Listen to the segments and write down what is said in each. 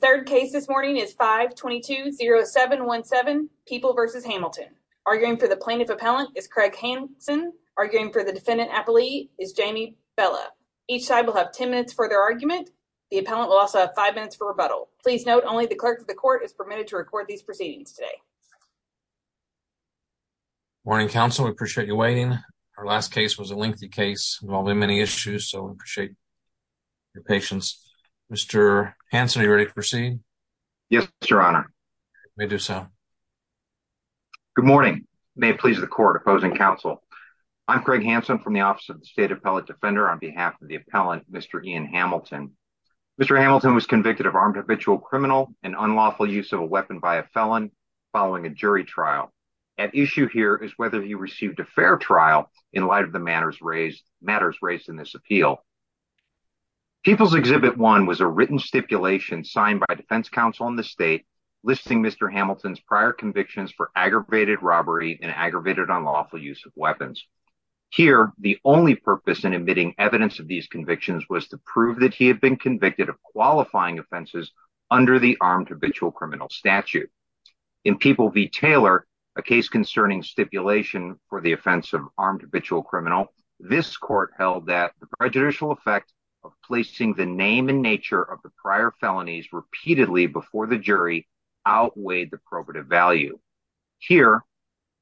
The third case this morning is 5-22-0717, People v. Hamilton. Arguing for the Plaintiff Appellant is Craig Hanson. Arguing for the Defendant Appellee is Jamie Bella. Each side will have 10 minutes for their argument. The Appellant will also have 5 minutes for rebuttal. Please note, only the Clerk of the Court is permitted to record these proceedings today. Good morning, Counsel. We appreciate you waiting. Our last case was a lengthy case involving many issues, so we appreciate your patience. Mr. Hanson, are you ready to proceed? Yes, Your Honor. You may do so. Good morning. May it please the Court, Opposing Counsel. I'm Craig Hanson from the Office of the State Appellate Defender on behalf of the Appellant, Mr. Ian Hamilton. Mr. Hamilton was convicted of armed habitual criminal and unlawful use of a weapon by a felon following a jury trial. At issue here is whether he received a fair trial in light of the matters raised in this appeal. People's Exhibit 1 was a written stipulation signed by Defense Counsel and the State listing Mr. Hamilton's prior convictions for aggravated robbery and aggravated unlawful use of weapons. Here, the only purpose in admitting evidence of these convictions was to prove that he had been convicted of qualifying offenses under the armed habitual criminal statute. In People v. Taylor, a case concerning stipulation for the offense of armed habitual criminal, this Court held that the prejudicial effect of placing the name and nature of the prior felonies repeatedly before the jury outweighed the probative value. Here,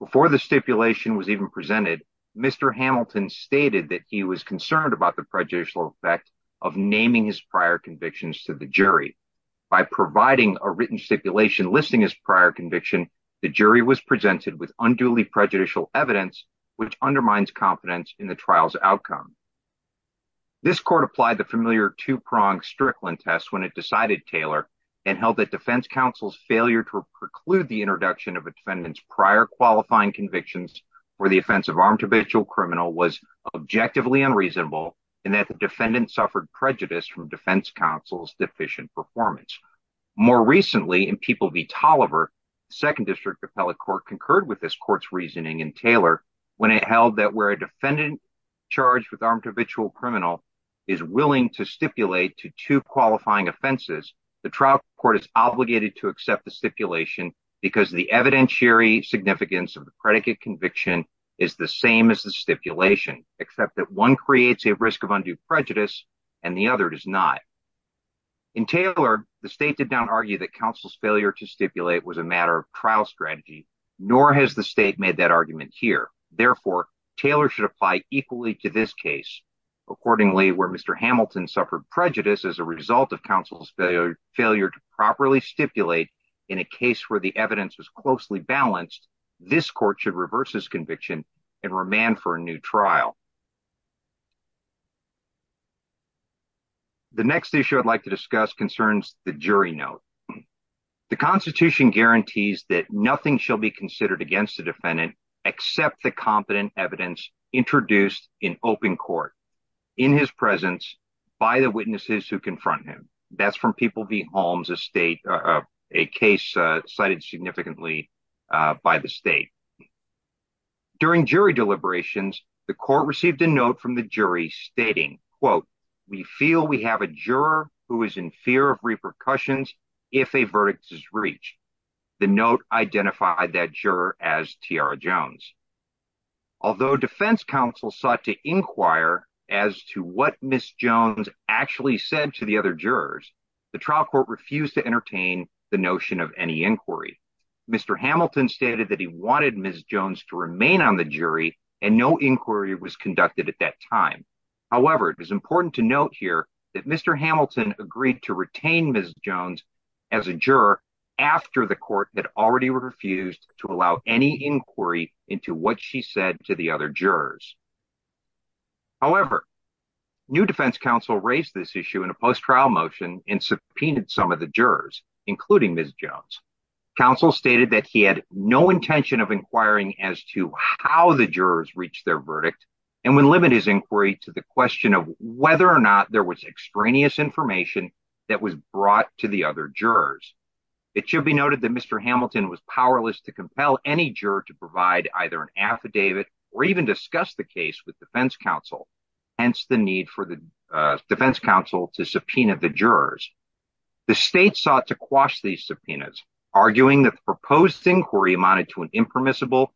before the stipulation was even presented, Mr. Hamilton stated that he was concerned about the prejudicial effect of naming his prior convictions to the jury. By providing a written stipulation listing his prior conviction, the jury was presented with unduly prejudicial evidence, which undermines confidence in the trial's outcome. This Court applied the familiar two-pronged Strickland test when it decided Taylor, and held that Defense Counsel's failure to preclude the introduction of a defendant's prior qualifying convictions for the offense of armed habitual criminal was objectively unreasonable, and that the defendant suffered prejudice from Defense Counsel's deficient performance. More recently, in People v. Tolliver, the Second District Appellate Court concurred with this Court's reasoning in Taylor when it held that where a defendant charged with armed habitual criminal is willing to stipulate to two qualifying offenses, the trial court is obligated to accept the stipulation because the evidentiary significance of the predicate conviction is the same as the stipulation, except that one creates a risk of undue prejudice and the other does not. In Taylor, the State did not argue that Counsel's failure to stipulate was a matter of trial strategy, nor has the State made that argument here. Therefore, Taylor should apply equally to this case. Accordingly, where Mr. Hamilton suffered prejudice as a result of Counsel's failure to properly stipulate in a case where the evidence was closely balanced, this Court should reverse his conviction and remand for a new trial. The next issue I'd like to discuss concerns the jury note. The Constitution guarantees that nothing shall be considered against the defendant except the competent evidence introduced in open court, in his presence, by the witnesses who confront him. That's from People v. Holmes, a case cited significantly by the State. During jury deliberations, the Court received a note from the jury stating, quote, we feel we have a juror who is in fear of repercussions if a verdict is reached. The note identified that juror as Tiara Jones. Although Defense Counsel sought to inquire as to what Ms. Jones actually said to the other jurors, the trial court refused to entertain the notion of any inquiry. Mr. Hamilton stated that he wanted Ms. Jones to remain on the jury and no inquiry was conducted at that time. However, it is important to note here that Mr. Hamilton agreed to retain Ms. Jones as a juror after the court had already refused to allow any inquiry into what she said to the other jurors. However, new Defense Counsel raised this issue in a post-trial motion and subpoenaed some of the jurors, including Ms. Jones. Counsel stated that he had no intention of inquiring as to how the jurors reached their verdict and would limit his inquiry to the question of whether or not there was extraneous information that was brought to the other jurors. It should be noted that Mr. Hamilton was powerless to compel any juror to provide either an affidavit or even discuss the case with Defense Counsel, hence the need for the Defense Counsel to subpoena the jurors. The state sought to quash these subpoenas, arguing that the proposed inquiry amounted to an impermissible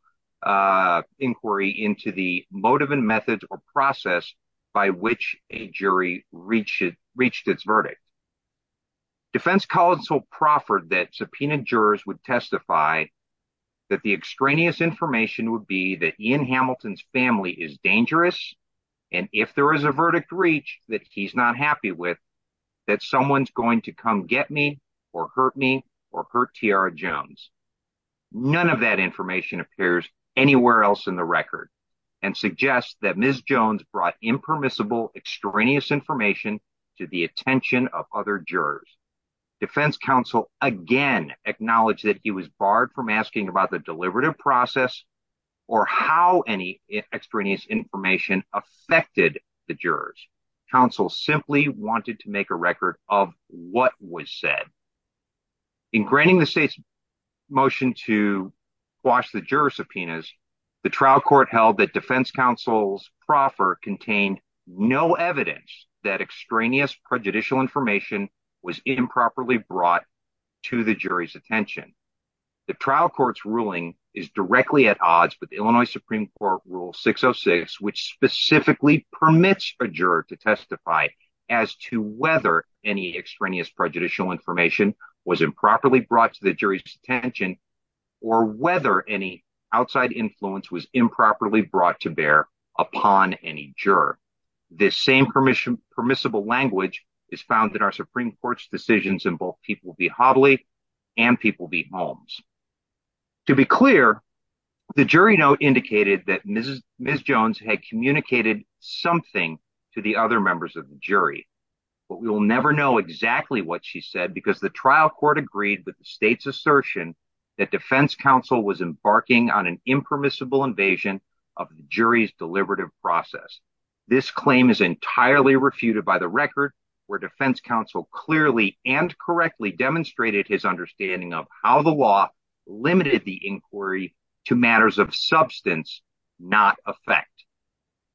inquiry into the motive and method or process by which a jury reached its verdict. Defense Counsel proffered that subpoenaed jurors would testify that the extraneous information would be that Ian Hamilton's family is dangerous and if there is a verdict reached that he's not happy with, that someone's going to come get me or hurt me or hurt Tiara Jones. None of that information appears anywhere else in the record and suggests that Ms. Jones brought impermissible extraneous information to the attention of other jurors. Defense Counsel again acknowledged that he was barred from asking about the deliberative process or how any extraneous information affected the jurors. Counsel simply wanted to make a record of what was said. In granting the state's motion to quash the juror subpoenas, the trial court held that Defense Counsel's proffer contained no evidence that extraneous prejudicial information was improperly brought to the jury's attention. The trial court's ruling is directly at odds with Illinois Supreme Court Rule 606, which specifically permits a juror to testify as to whether any extraneous prejudicial information was improperly brought to the jury's attention or whether any outside influence was improperly brought to bear upon any juror. This same permissible language is found in our Supreme Court's decisions in both People v. Hobley and People v. Holmes. To be clear, the jury note indicated that Ms. Jones had communicated something to the other members of the jury. But we will never know exactly what she said because the trial court agreed with the state's assertion that Defense Counsel was embarking on an impermissible invasion of the jury's deliberative process. This claim is entirely refuted by the record where Defense Counsel clearly and correctly demonstrated his understanding of how the law limited the inquiry to matters of substance, not effect.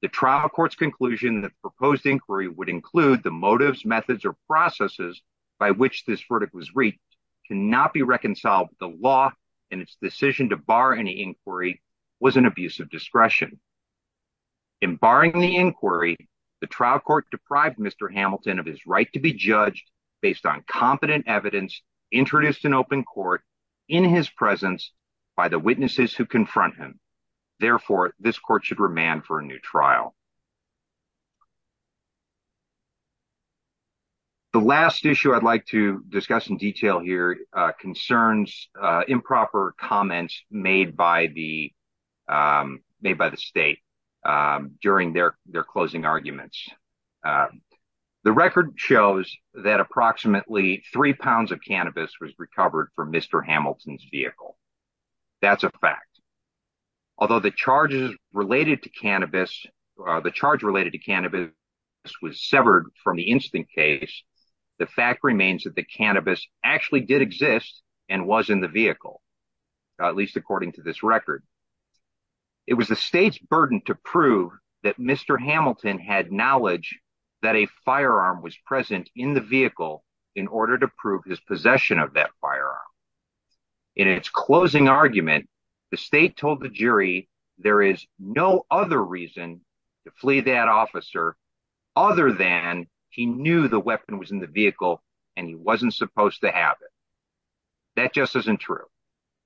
The trial court's conclusion that the proposed inquiry would include the motives, methods, or processes by which this verdict was reached cannot be reconciled with the law and its decision to bar any inquiry was an abuse of discretion. In barring the inquiry, the trial court deprived Mr. Hamilton of his right to be judged based on competent evidence introduced in open court in his presence by the witnesses who confront him. Therefore, this court should remand for a new trial. The last issue I'd like to discuss in detail here concerns improper comments made by the state during their closing arguments. The record shows that approximately three pounds of cannabis was recovered from Mr. Hamilton's vehicle. That's a fact. Although the charge related to cannabis was severed from the instant case, the fact remains that the cannabis actually did exist and was in the vehicle, at least according to this record. It was the state's burden to prove that Mr. Hamilton had knowledge that a firearm was present in the vehicle in order to prove his possession of that firearm. In its closing argument, the state told the jury there is no other reason to flee that officer other than he knew the weapon was in the vehicle and he wasn't supposed to have it. That just isn't true.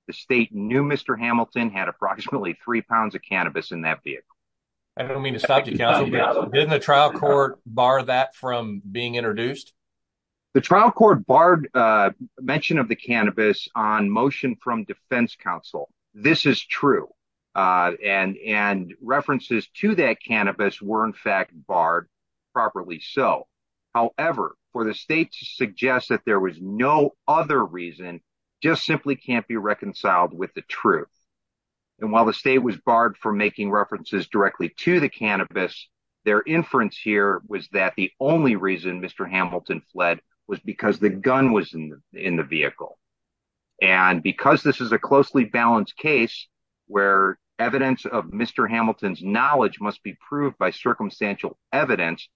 The state knew Mr. Hamilton had approximately three pounds of cannabis in that vehicle. I don't mean to stop you, counsel, but didn't the trial court bar that from being introduced? The trial court barred mention of the cannabis on motion from defense counsel. This is true. And references to that cannabis were in fact barred properly so. However, for the state to suggest that there was no other reason just simply can't be reconciled with the truth. And while the state was barred from making references directly to the cannabis, their inference here was that the only reason Mr. Hamilton fled was because the gun was in the vehicle. And because this is a closely balanced case where evidence of Mr. Hamilton's knowledge must be proved by circumstantial evidence,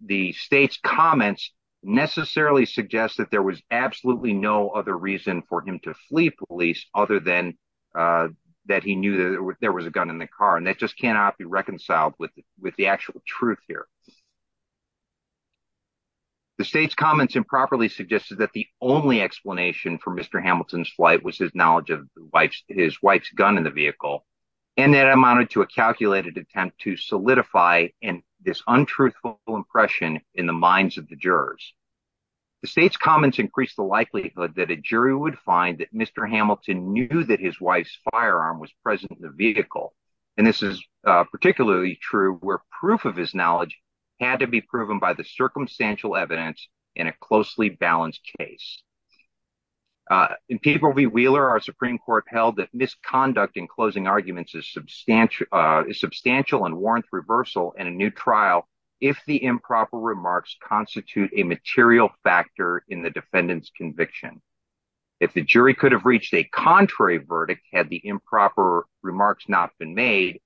the state's comments necessarily suggest that there was absolutely no other reason for him to flee police other than that he knew there was a gun in the car. And that just cannot be reconciled with the actual truth here. The state's comments improperly suggested that the only explanation for Mr. Hamilton's flight was his knowledge of his wife's gun in the vehicle. And that amounted to a calculated attempt to solidify this untruthful impression in the minds of the jurors. The state's comments increased the likelihood that a jury would find that Mr. Hamilton knew that his wife's firearm was present in the vehicle. And this is particularly true where proof of his knowledge had to be proven by the circumstantial evidence in a closely balanced case. In paper v. Wheeler, our Supreme Court held that misconduct in closing arguments is substantial and warrants reversal in a new trial if the improper remarks constitute a material factor in the defendant's conviction. If the jury could have reached a contrary verdict had the improper remarks not been made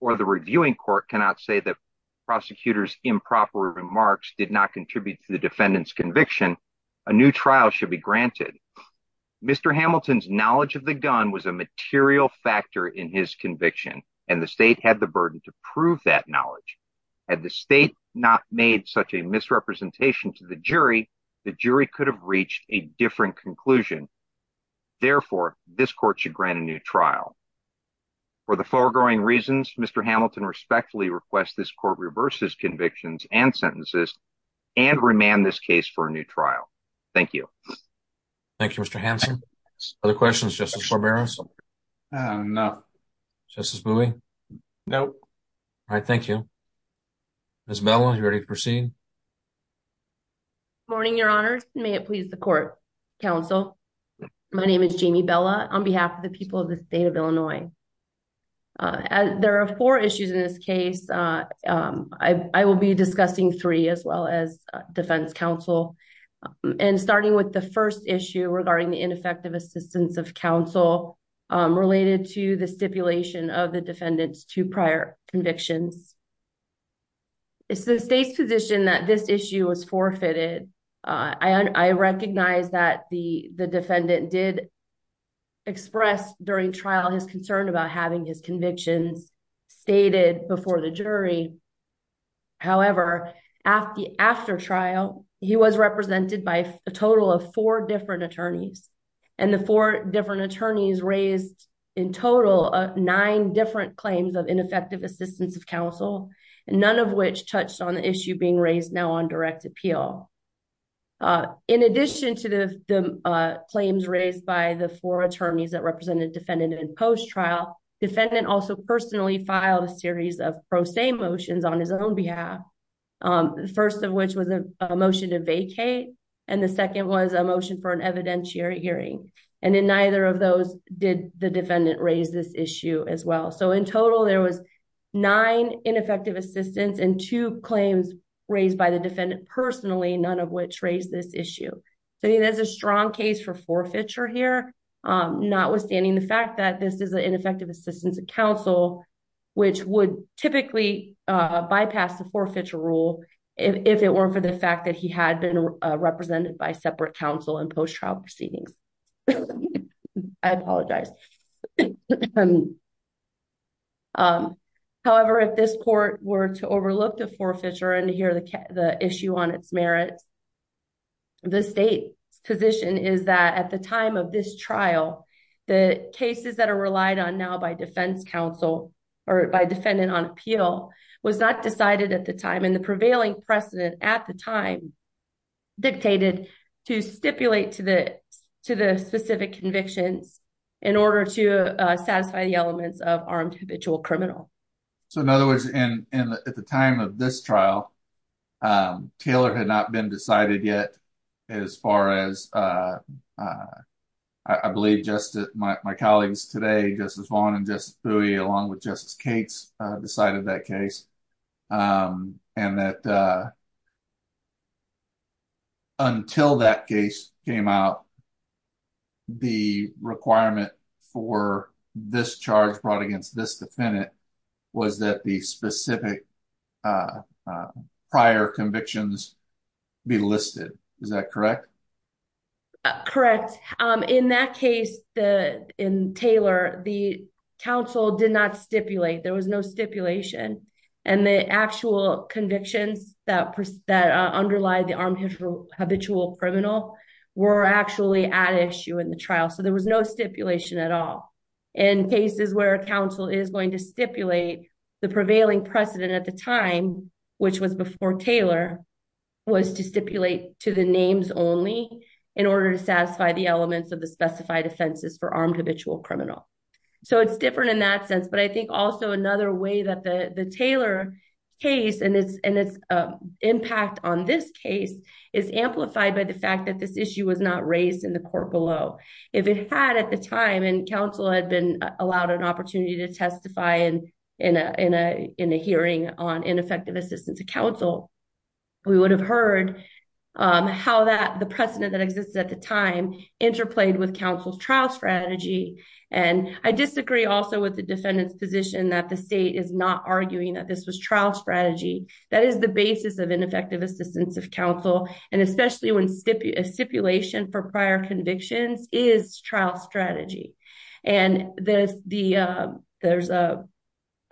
or the reviewing court cannot say that prosecutor's improper remarks did not contribute to the defendant's conviction, a new trial should be granted. Mr. Hamilton's knowledge of the gun was a material factor in his conviction and the state had the burden to prove that knowledge. Had the state not made such a misrepresentation to the jury, the jury could have reached a different conclusion. Therefore, this court should grant a new trial. For the foregoing reasons, Mr. Hamilton respectfully requests this court reverse his convictions and sentences and remand this case for a new trial. Thank you. Thank you, Mr. Hanson. Other questions, Justice Barberos? No. Justice Bowie? No. All right, thank you. Ms. Bella, are you ready to proceed? Good morning, Your Honors. May it please the court, counsel. My name is Jamie Bella on behalf of the people of the state of Illinois. There are four issues in this case. I will be discussing three as well as defense counsel. And starting with the first issue regarding the ineffective assistance of counsel related to the stipulation of the defendant's two prior convictions. It's the state's position that this issue was forfeited. I recognize that the defendant did express during trial his concern about having his convictions stated before the jury. However, after trial, he was represented by a total of four different attorneys. And the four different attorneys raised in total nine different claims of ineffective assistance of counsel, none of which touched on the issue being raised now on direct appeal. In addition to the claims raised by the four attorneys that represented defendant in post-trial, defendant also personally filed a series of pro se motions on his own behalf. The first of which was a motion to vacate. And the second was a motion for an evidentiary hearing. And in neither of those did the defendant raise this issue as well. So in total, there was nine ineffective assistance and two claims raised by the defendant personally, none of which raised this issue. So there's a strong case for forfeiture here, notwithstanding the fact that this is an ineffective assistance of counsel, which would typically bypass the forfeiture rule if it weren't for the fact that he had been represented by separate counsel in post-trial proceedings. I apologize. However, if this court were to overlook the forfeiture and hear the issue on its merits, the state's position is that at the time of this trial, the cases that are relied on now by defense counsel or by defendant on appeal was not decided at the time and the prevailing precedent at the time dictated to stipulate to the specific convictions in order to satisfy the elements of armed habitual criminal. So in other words, at the time of this trial, Taylor had not been decided yet as far as, I believe, my colleagues today, Justice Vaughn and Justice Thewey, along with Justice Cates, decided that case and that until that case came out, the requirement for this charge brought against this defendant was that the specific prior convictions be listed. Is that correct? Correct. In that case, in Taylor, the counsel did not stipulate. There was no stipulation and the actual convictions that underlie the armed habitual criminal were actually at issue in the trial. So there was no stipulation at all. In cases where counsel is going to stipulate, the prevailing precedent at the time, which was before Taylor, was to stipulate to the names only in order to satisfy the elements of the specified offenses for armed habitual criminal. So it's different in that sense, but I think also another way that the Taylor case and its impact on this case is amplified by the fact that this issue was not raised in the court below. If it had at the time and counsel had been allowed an opportunity to testify in a hearing on ineffective assistance to counsel, we would have heard how the precedent that existed at the time interplayed with counsel's trial strategy. And I disagree also with the defendant's position that the state is not arguing that this was trial strategy. That is the basis of ineffective assistance of counsel, and especially when a stipulation for prior convictions is trial strategy. And there's a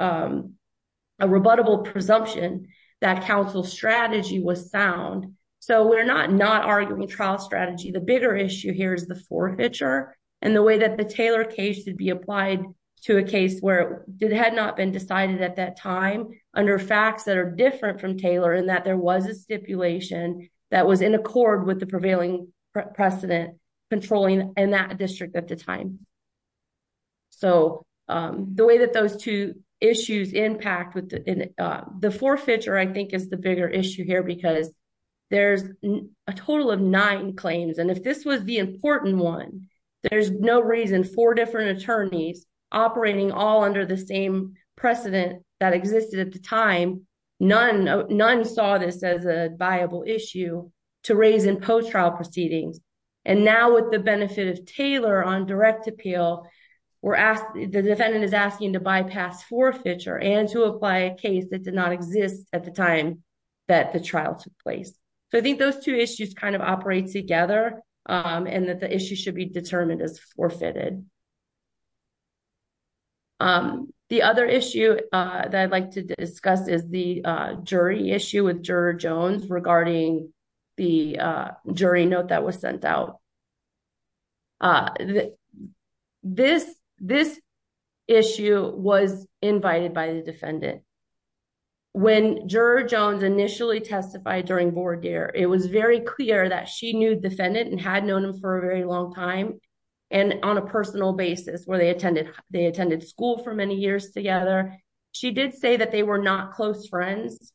rebuttable presumption that counsel's strategy was sound. So we're not arguing trial strategy. The bigger issue here is the forfeiture and the way that the Taylor case should be applied to a case where it had not been decided at that time under facts that are different from Taylor and that there was a stipulation that was in accord with the prevailing precedent controlling in that district at the time. So the way that those two issues impact with the forfeiture, I think is the bigger issue here because there's a total of nine claims and if this was the important one, there's no reason four different attorneys operating all under the same precedent that existed at the time, none saw this as a viable issue to raise in post-trial proceedings. And now with the benefit of Taylor on direct appeal, the defendant is asking to bypass forfeiture and to apply a case that did not exist at the time that the trial took place. So I think those two issues kind of operate together and that the issue should be determined as forfeited. The other issue that I'd like to discuss is the jury issue with Juror Jones regarding the jury note that was sent out. This issue was invited by the defendant. When Juror Jones initially testified during board year, it was very clear that she knew the defendant and had known him for a very long time and on a personal basis where they attended school for many years together. She did say that they were not close friends,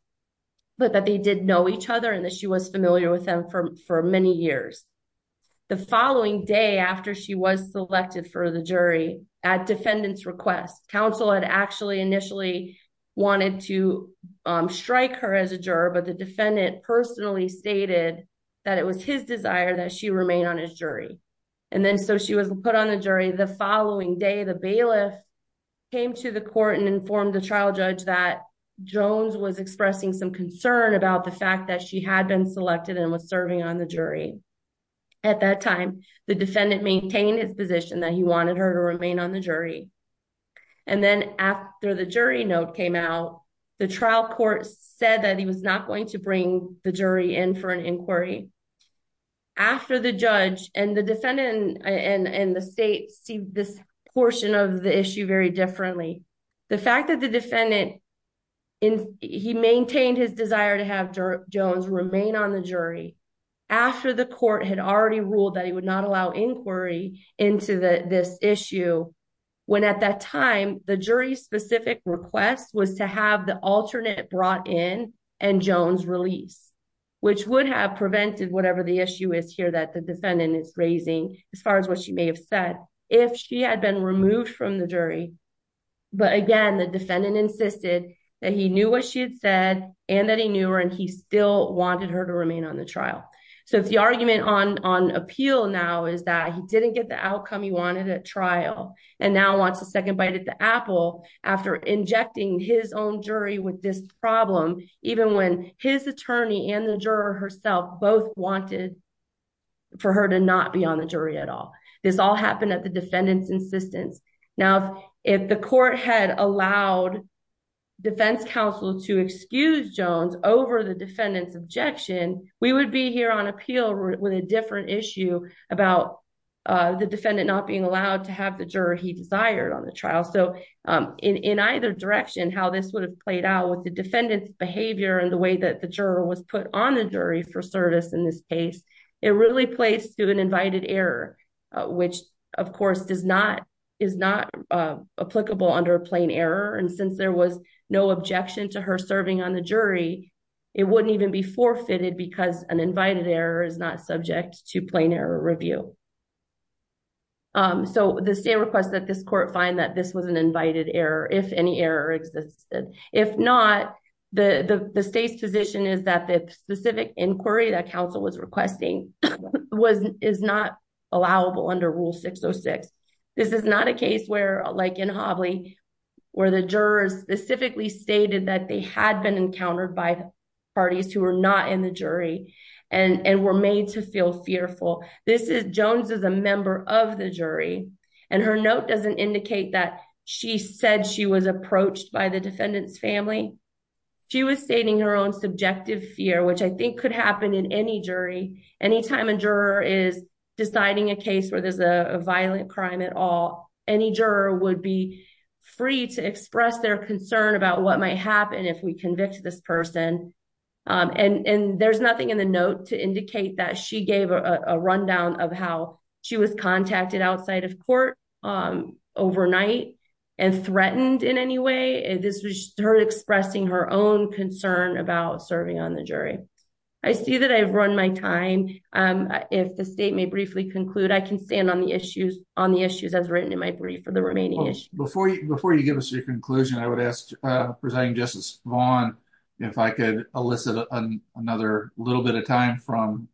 but that they did know each other and that she was familiar with them for many years. The following day after she was selected for the jury, at defendant's request, council had actually initially wanted to strike her as a juror, but the defendant personally stated that it was his desire that she remain on his jury. And then so she was put on the jury the following day. The bailiff came to the court and informed the trial judge that Jones was expressing some concern about the fact that she had been selected and was serving on the jury. At that time, the defendant maintained his position that he wanted her to remain on the jury. And then after the jury note came out, the trial court said that he was not going to bring the jury in for an inquiry. After the judge and the defendant and the state see this portion of the issue very differently, the fact that the defendant, he maintained his desire to have Jones remain on the jury after the court had already ruled that he would not allow inquiry into this issue, when at that time, the jury's specific request was to have the alternate brought in and Jones released, which would have prevented whatever the issue is here that the defendant is raising as far as what she may have said, if she had been removed from the jury. But again, the defendant insisted that he knew what she had said and that he knew her and he still wanted her to remain on the trial. So if the argument on appeal now is that he didn't get the outcome he wanted at trial and now wants a second bite at the apple after injecting his own jury with this problem, even when his attorney and the juror herself both wanted for her to not be on the jury at all. This all happened at the defendant's insistence. Now, if the court had allowed defense counsel to excuse Jones over the defendant's objection, we would be here on appeal with a different issue about the defendant not being allowed to have the juror he desired on the trial. So in either direction, how this would have played out with the defendant's behavior and the way that the juror was put on the jury for service in this case, it really plays to an invited error, which of course is not applicable under a plain error. And since there was no objection to her serving on the jury, it wouldn't even be forfeited because an invited error is not subject to plain error review. So the state requests that this court find that this was an invited error if any error existed. If not, the state's position is that the specific inquiry that counsel was requesting is not allowable under Rule 606. This is not a case where, like in Hobley, where the jurors specifically stated that they had been encountered by parties who were not in the jury and were made to feel fearful. Jones is a member of the jury and her note doesn't indicate that she said she was approached by the defendant's family. She was stating her own subjective fear, which I think could happen in any jury. Anytime a juror is deciding a case where there's a violent crime at all, any juror would be free to express their concern about what might happen if we convict this person. And there's nothing in the note to indicate that she gave a rundown of how she was contacted outside of court overnight and threatened in any way. This was her expressing her own concern about serving on the jury. I see that I've run my time. If the state may briefly conclude, I can stand on the issues as written in my brief for the remaining issues. Before you give us your conclusion, I would ask President Justice Vaughn if I could elicit another little bit of time from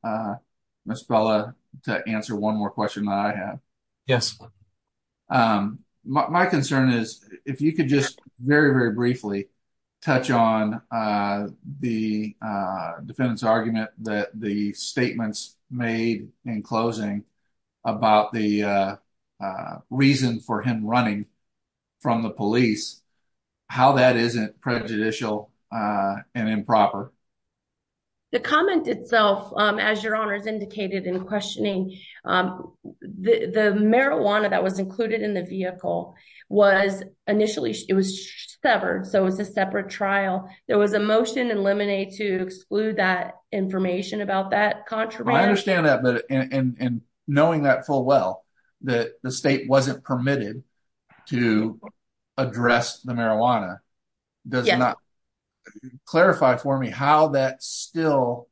Ms. Bella to answer one more question that I have. Yes. My concern is if you could just very, very briefly touch on the defendant's argument that the statements made in closing about the reason for him running from the police, how that isn't prejudicial and improper. The comment itself, as your honors indicated in questioning, the marijuana that was included in the vehicle was initially severed so it was a separate trial. There was a motion in Lemonade to exclude that information about that contraband. I understand that, but in knowing that full well, that the state wasn't permitted to address the marijuana, does it not clarify for me how that's still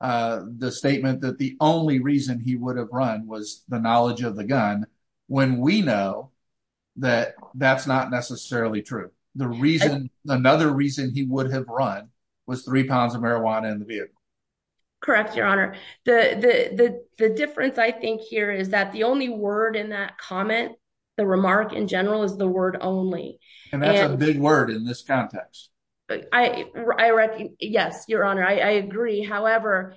the statement that the only reason he would have run was the knowledge of the gun when we know that that's not necessarily true. Another reason he would have run was three pounds of marijuana in the vehicle. Correct, your honor. The difference I think here is that the only word in that comment, the remark in general, is the word only. And that's a big word in this context. Yes, your honor, I agree. However,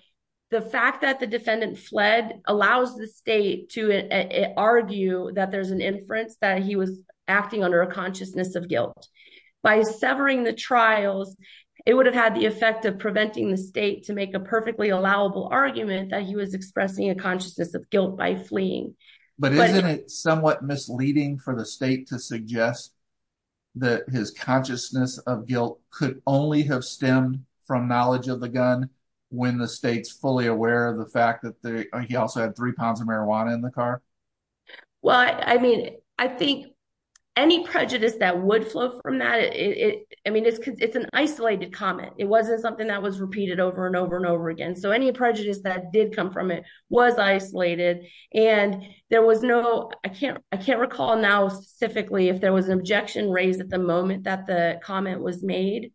the fact that the defendant fled allows the state to argue that there's an inference that he was acting under a consciousness of guilt. By severing the trials, it would have had the effect of preventing the state to make a perfectly allowable argument that he was expressing a consciousness of guilt by fleeing. But isn't it somewhat misleading for the state to suggest that his consciousness of guilt could only have stemmed from knowledge of the gun when the state's fully aware of the fact that he also had three pounds of marijuana in the car? Well, I mean, I think any prejudice that would flow from that, I mean, it's an isolated comment. It wasn't something that was repeated over and over and over again. So any prejudice that did come from it was isolated. And there was no, I can't recall now specifically if there was an objection raised at the moment that the comment was made.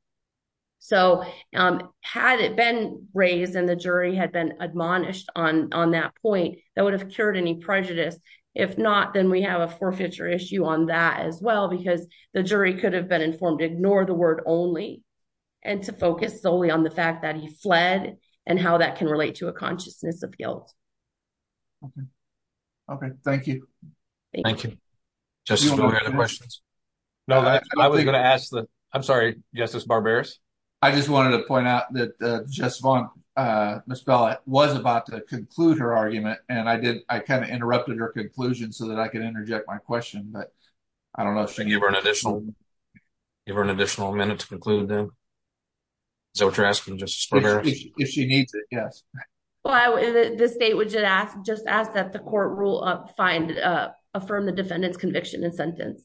So had it been raised and the jury had been admonished on that point, that would have cured any prejudice. If not, then we have a forfeiture issue on that as well because the jury could have been informed to ignore the word only and to focus solely on the fact that he fled and how that can relate to a consciousness of guilt. Okay. Okay. Thank you. Thank you. Justice, do you have any other questions? No, I was going to ask the, I'm sorry, Justice Barberis. I just wanted to point out that Ms. Bella was about to conclude her argument and I did, I kind of interrupted her conclusion so that I could interject my question, but I don't know if she gave her an additional minute to conclude then. Is that what you're asking, Justice Barberis? If she needs it, I guess. Well, the state would just ask that the court rule find, affirm the defendant's conviction and sentence.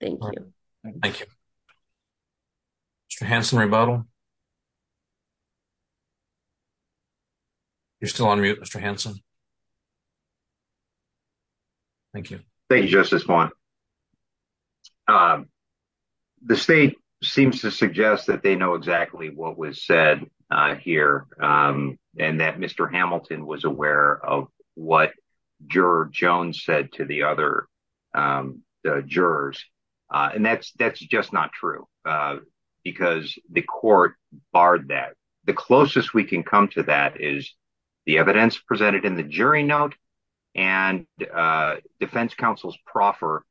Thank you. Thank you. Mr. Hansen, rebuttal. You're still on mute, Mr. Hansen. Thank you. Thank you, Justice Vaughn. The state seems to suggest that they know exactly what was said here. And that Mr. Hamilton was aware of what Juror Jones said to the other jurors. And that's just not true because the court barred that. The closest we can come to that is the evidence presented in the jury note and defense counsel's proffer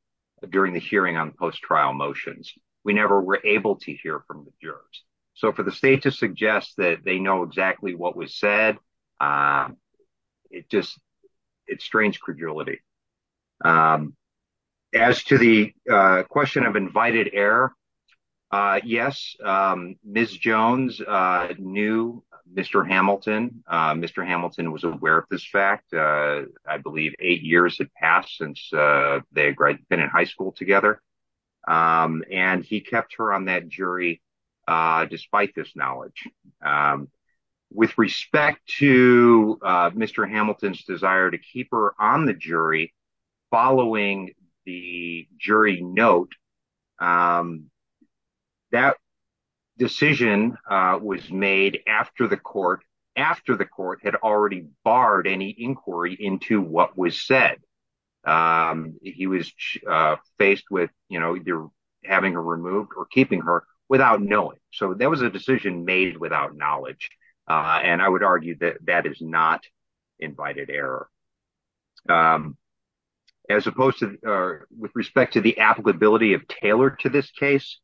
during the hearing on post-trial motions. We never were able to hear from the jurors. So for the state to suggest that they know exactly what was said, it just strains credulity. As to the question of invited heir, yes, Ms. Jones knew Mr. Hamilton. Mr. Hamilton was aware fact. I believe eight years had passed since they had been in high school together. And he kept her on that jury despite this knowledge. With respect to Mr. Hamilton's desire to keep her on the jury following the jury note, that decision was made after the court had already barred any inquiry into what was said. He was faced with having her removed or keeping her without knowing. That was a decision made without knowledge. I would argue that is not invited heir. As opposed to the applicability of tailored to this case,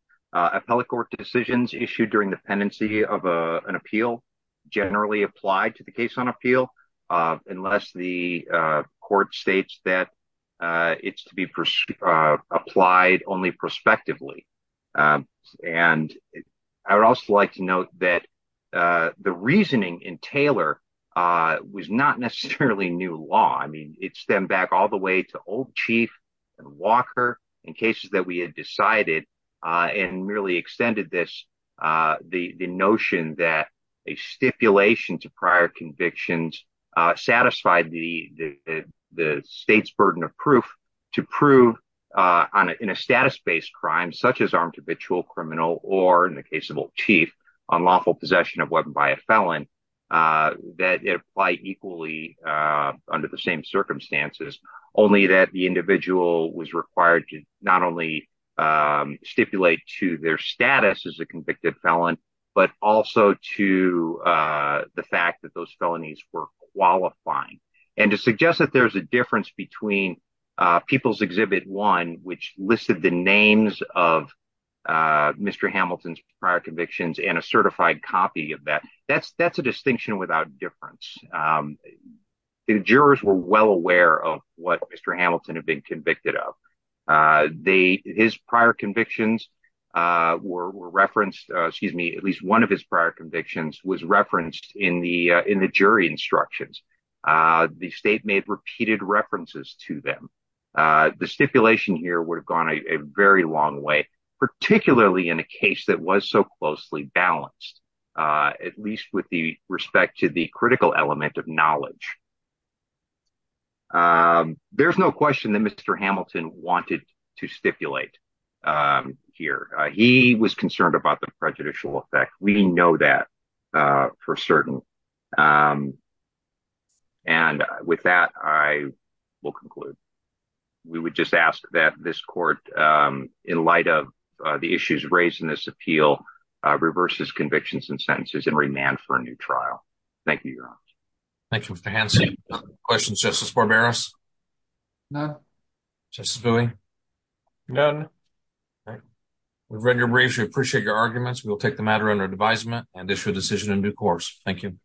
generally applied to the case on appeal unless the court states that it is to be applied only prospectively. I would also like to note that the reasoning in Taylor was not necessarily new law. It stemmed back to old chief and Walker in cases we decided and the court states burden of proof to prove in a status based crime such as criminal or in the case of old chief that apply equally under the same statute. I like to note that there is a distinction between people's exhibit one which listed the names of Mr. Hamilton's prior convictions and a certified copy of that. That's a distinction without difference. The jurors were well aware of what Mr. Hamilton had been convicted of. His prior convictions were referenced in the jury instructions. The state made repeated references to them. The jurors of between people's names of Mr. Hamilton's prior convictions and a certified copy of that jury instruction. The jurors were well aware of prior convictions and a certified copy of that jury instruction. The jurors aware of Mr. Hamilton's prior convictions and a certified copy of that jury instruction. The jurors were well aware of of Mr. Hamilton's prior convictions and a certified copy of that jury instruction. The jurors were well aware of Mr.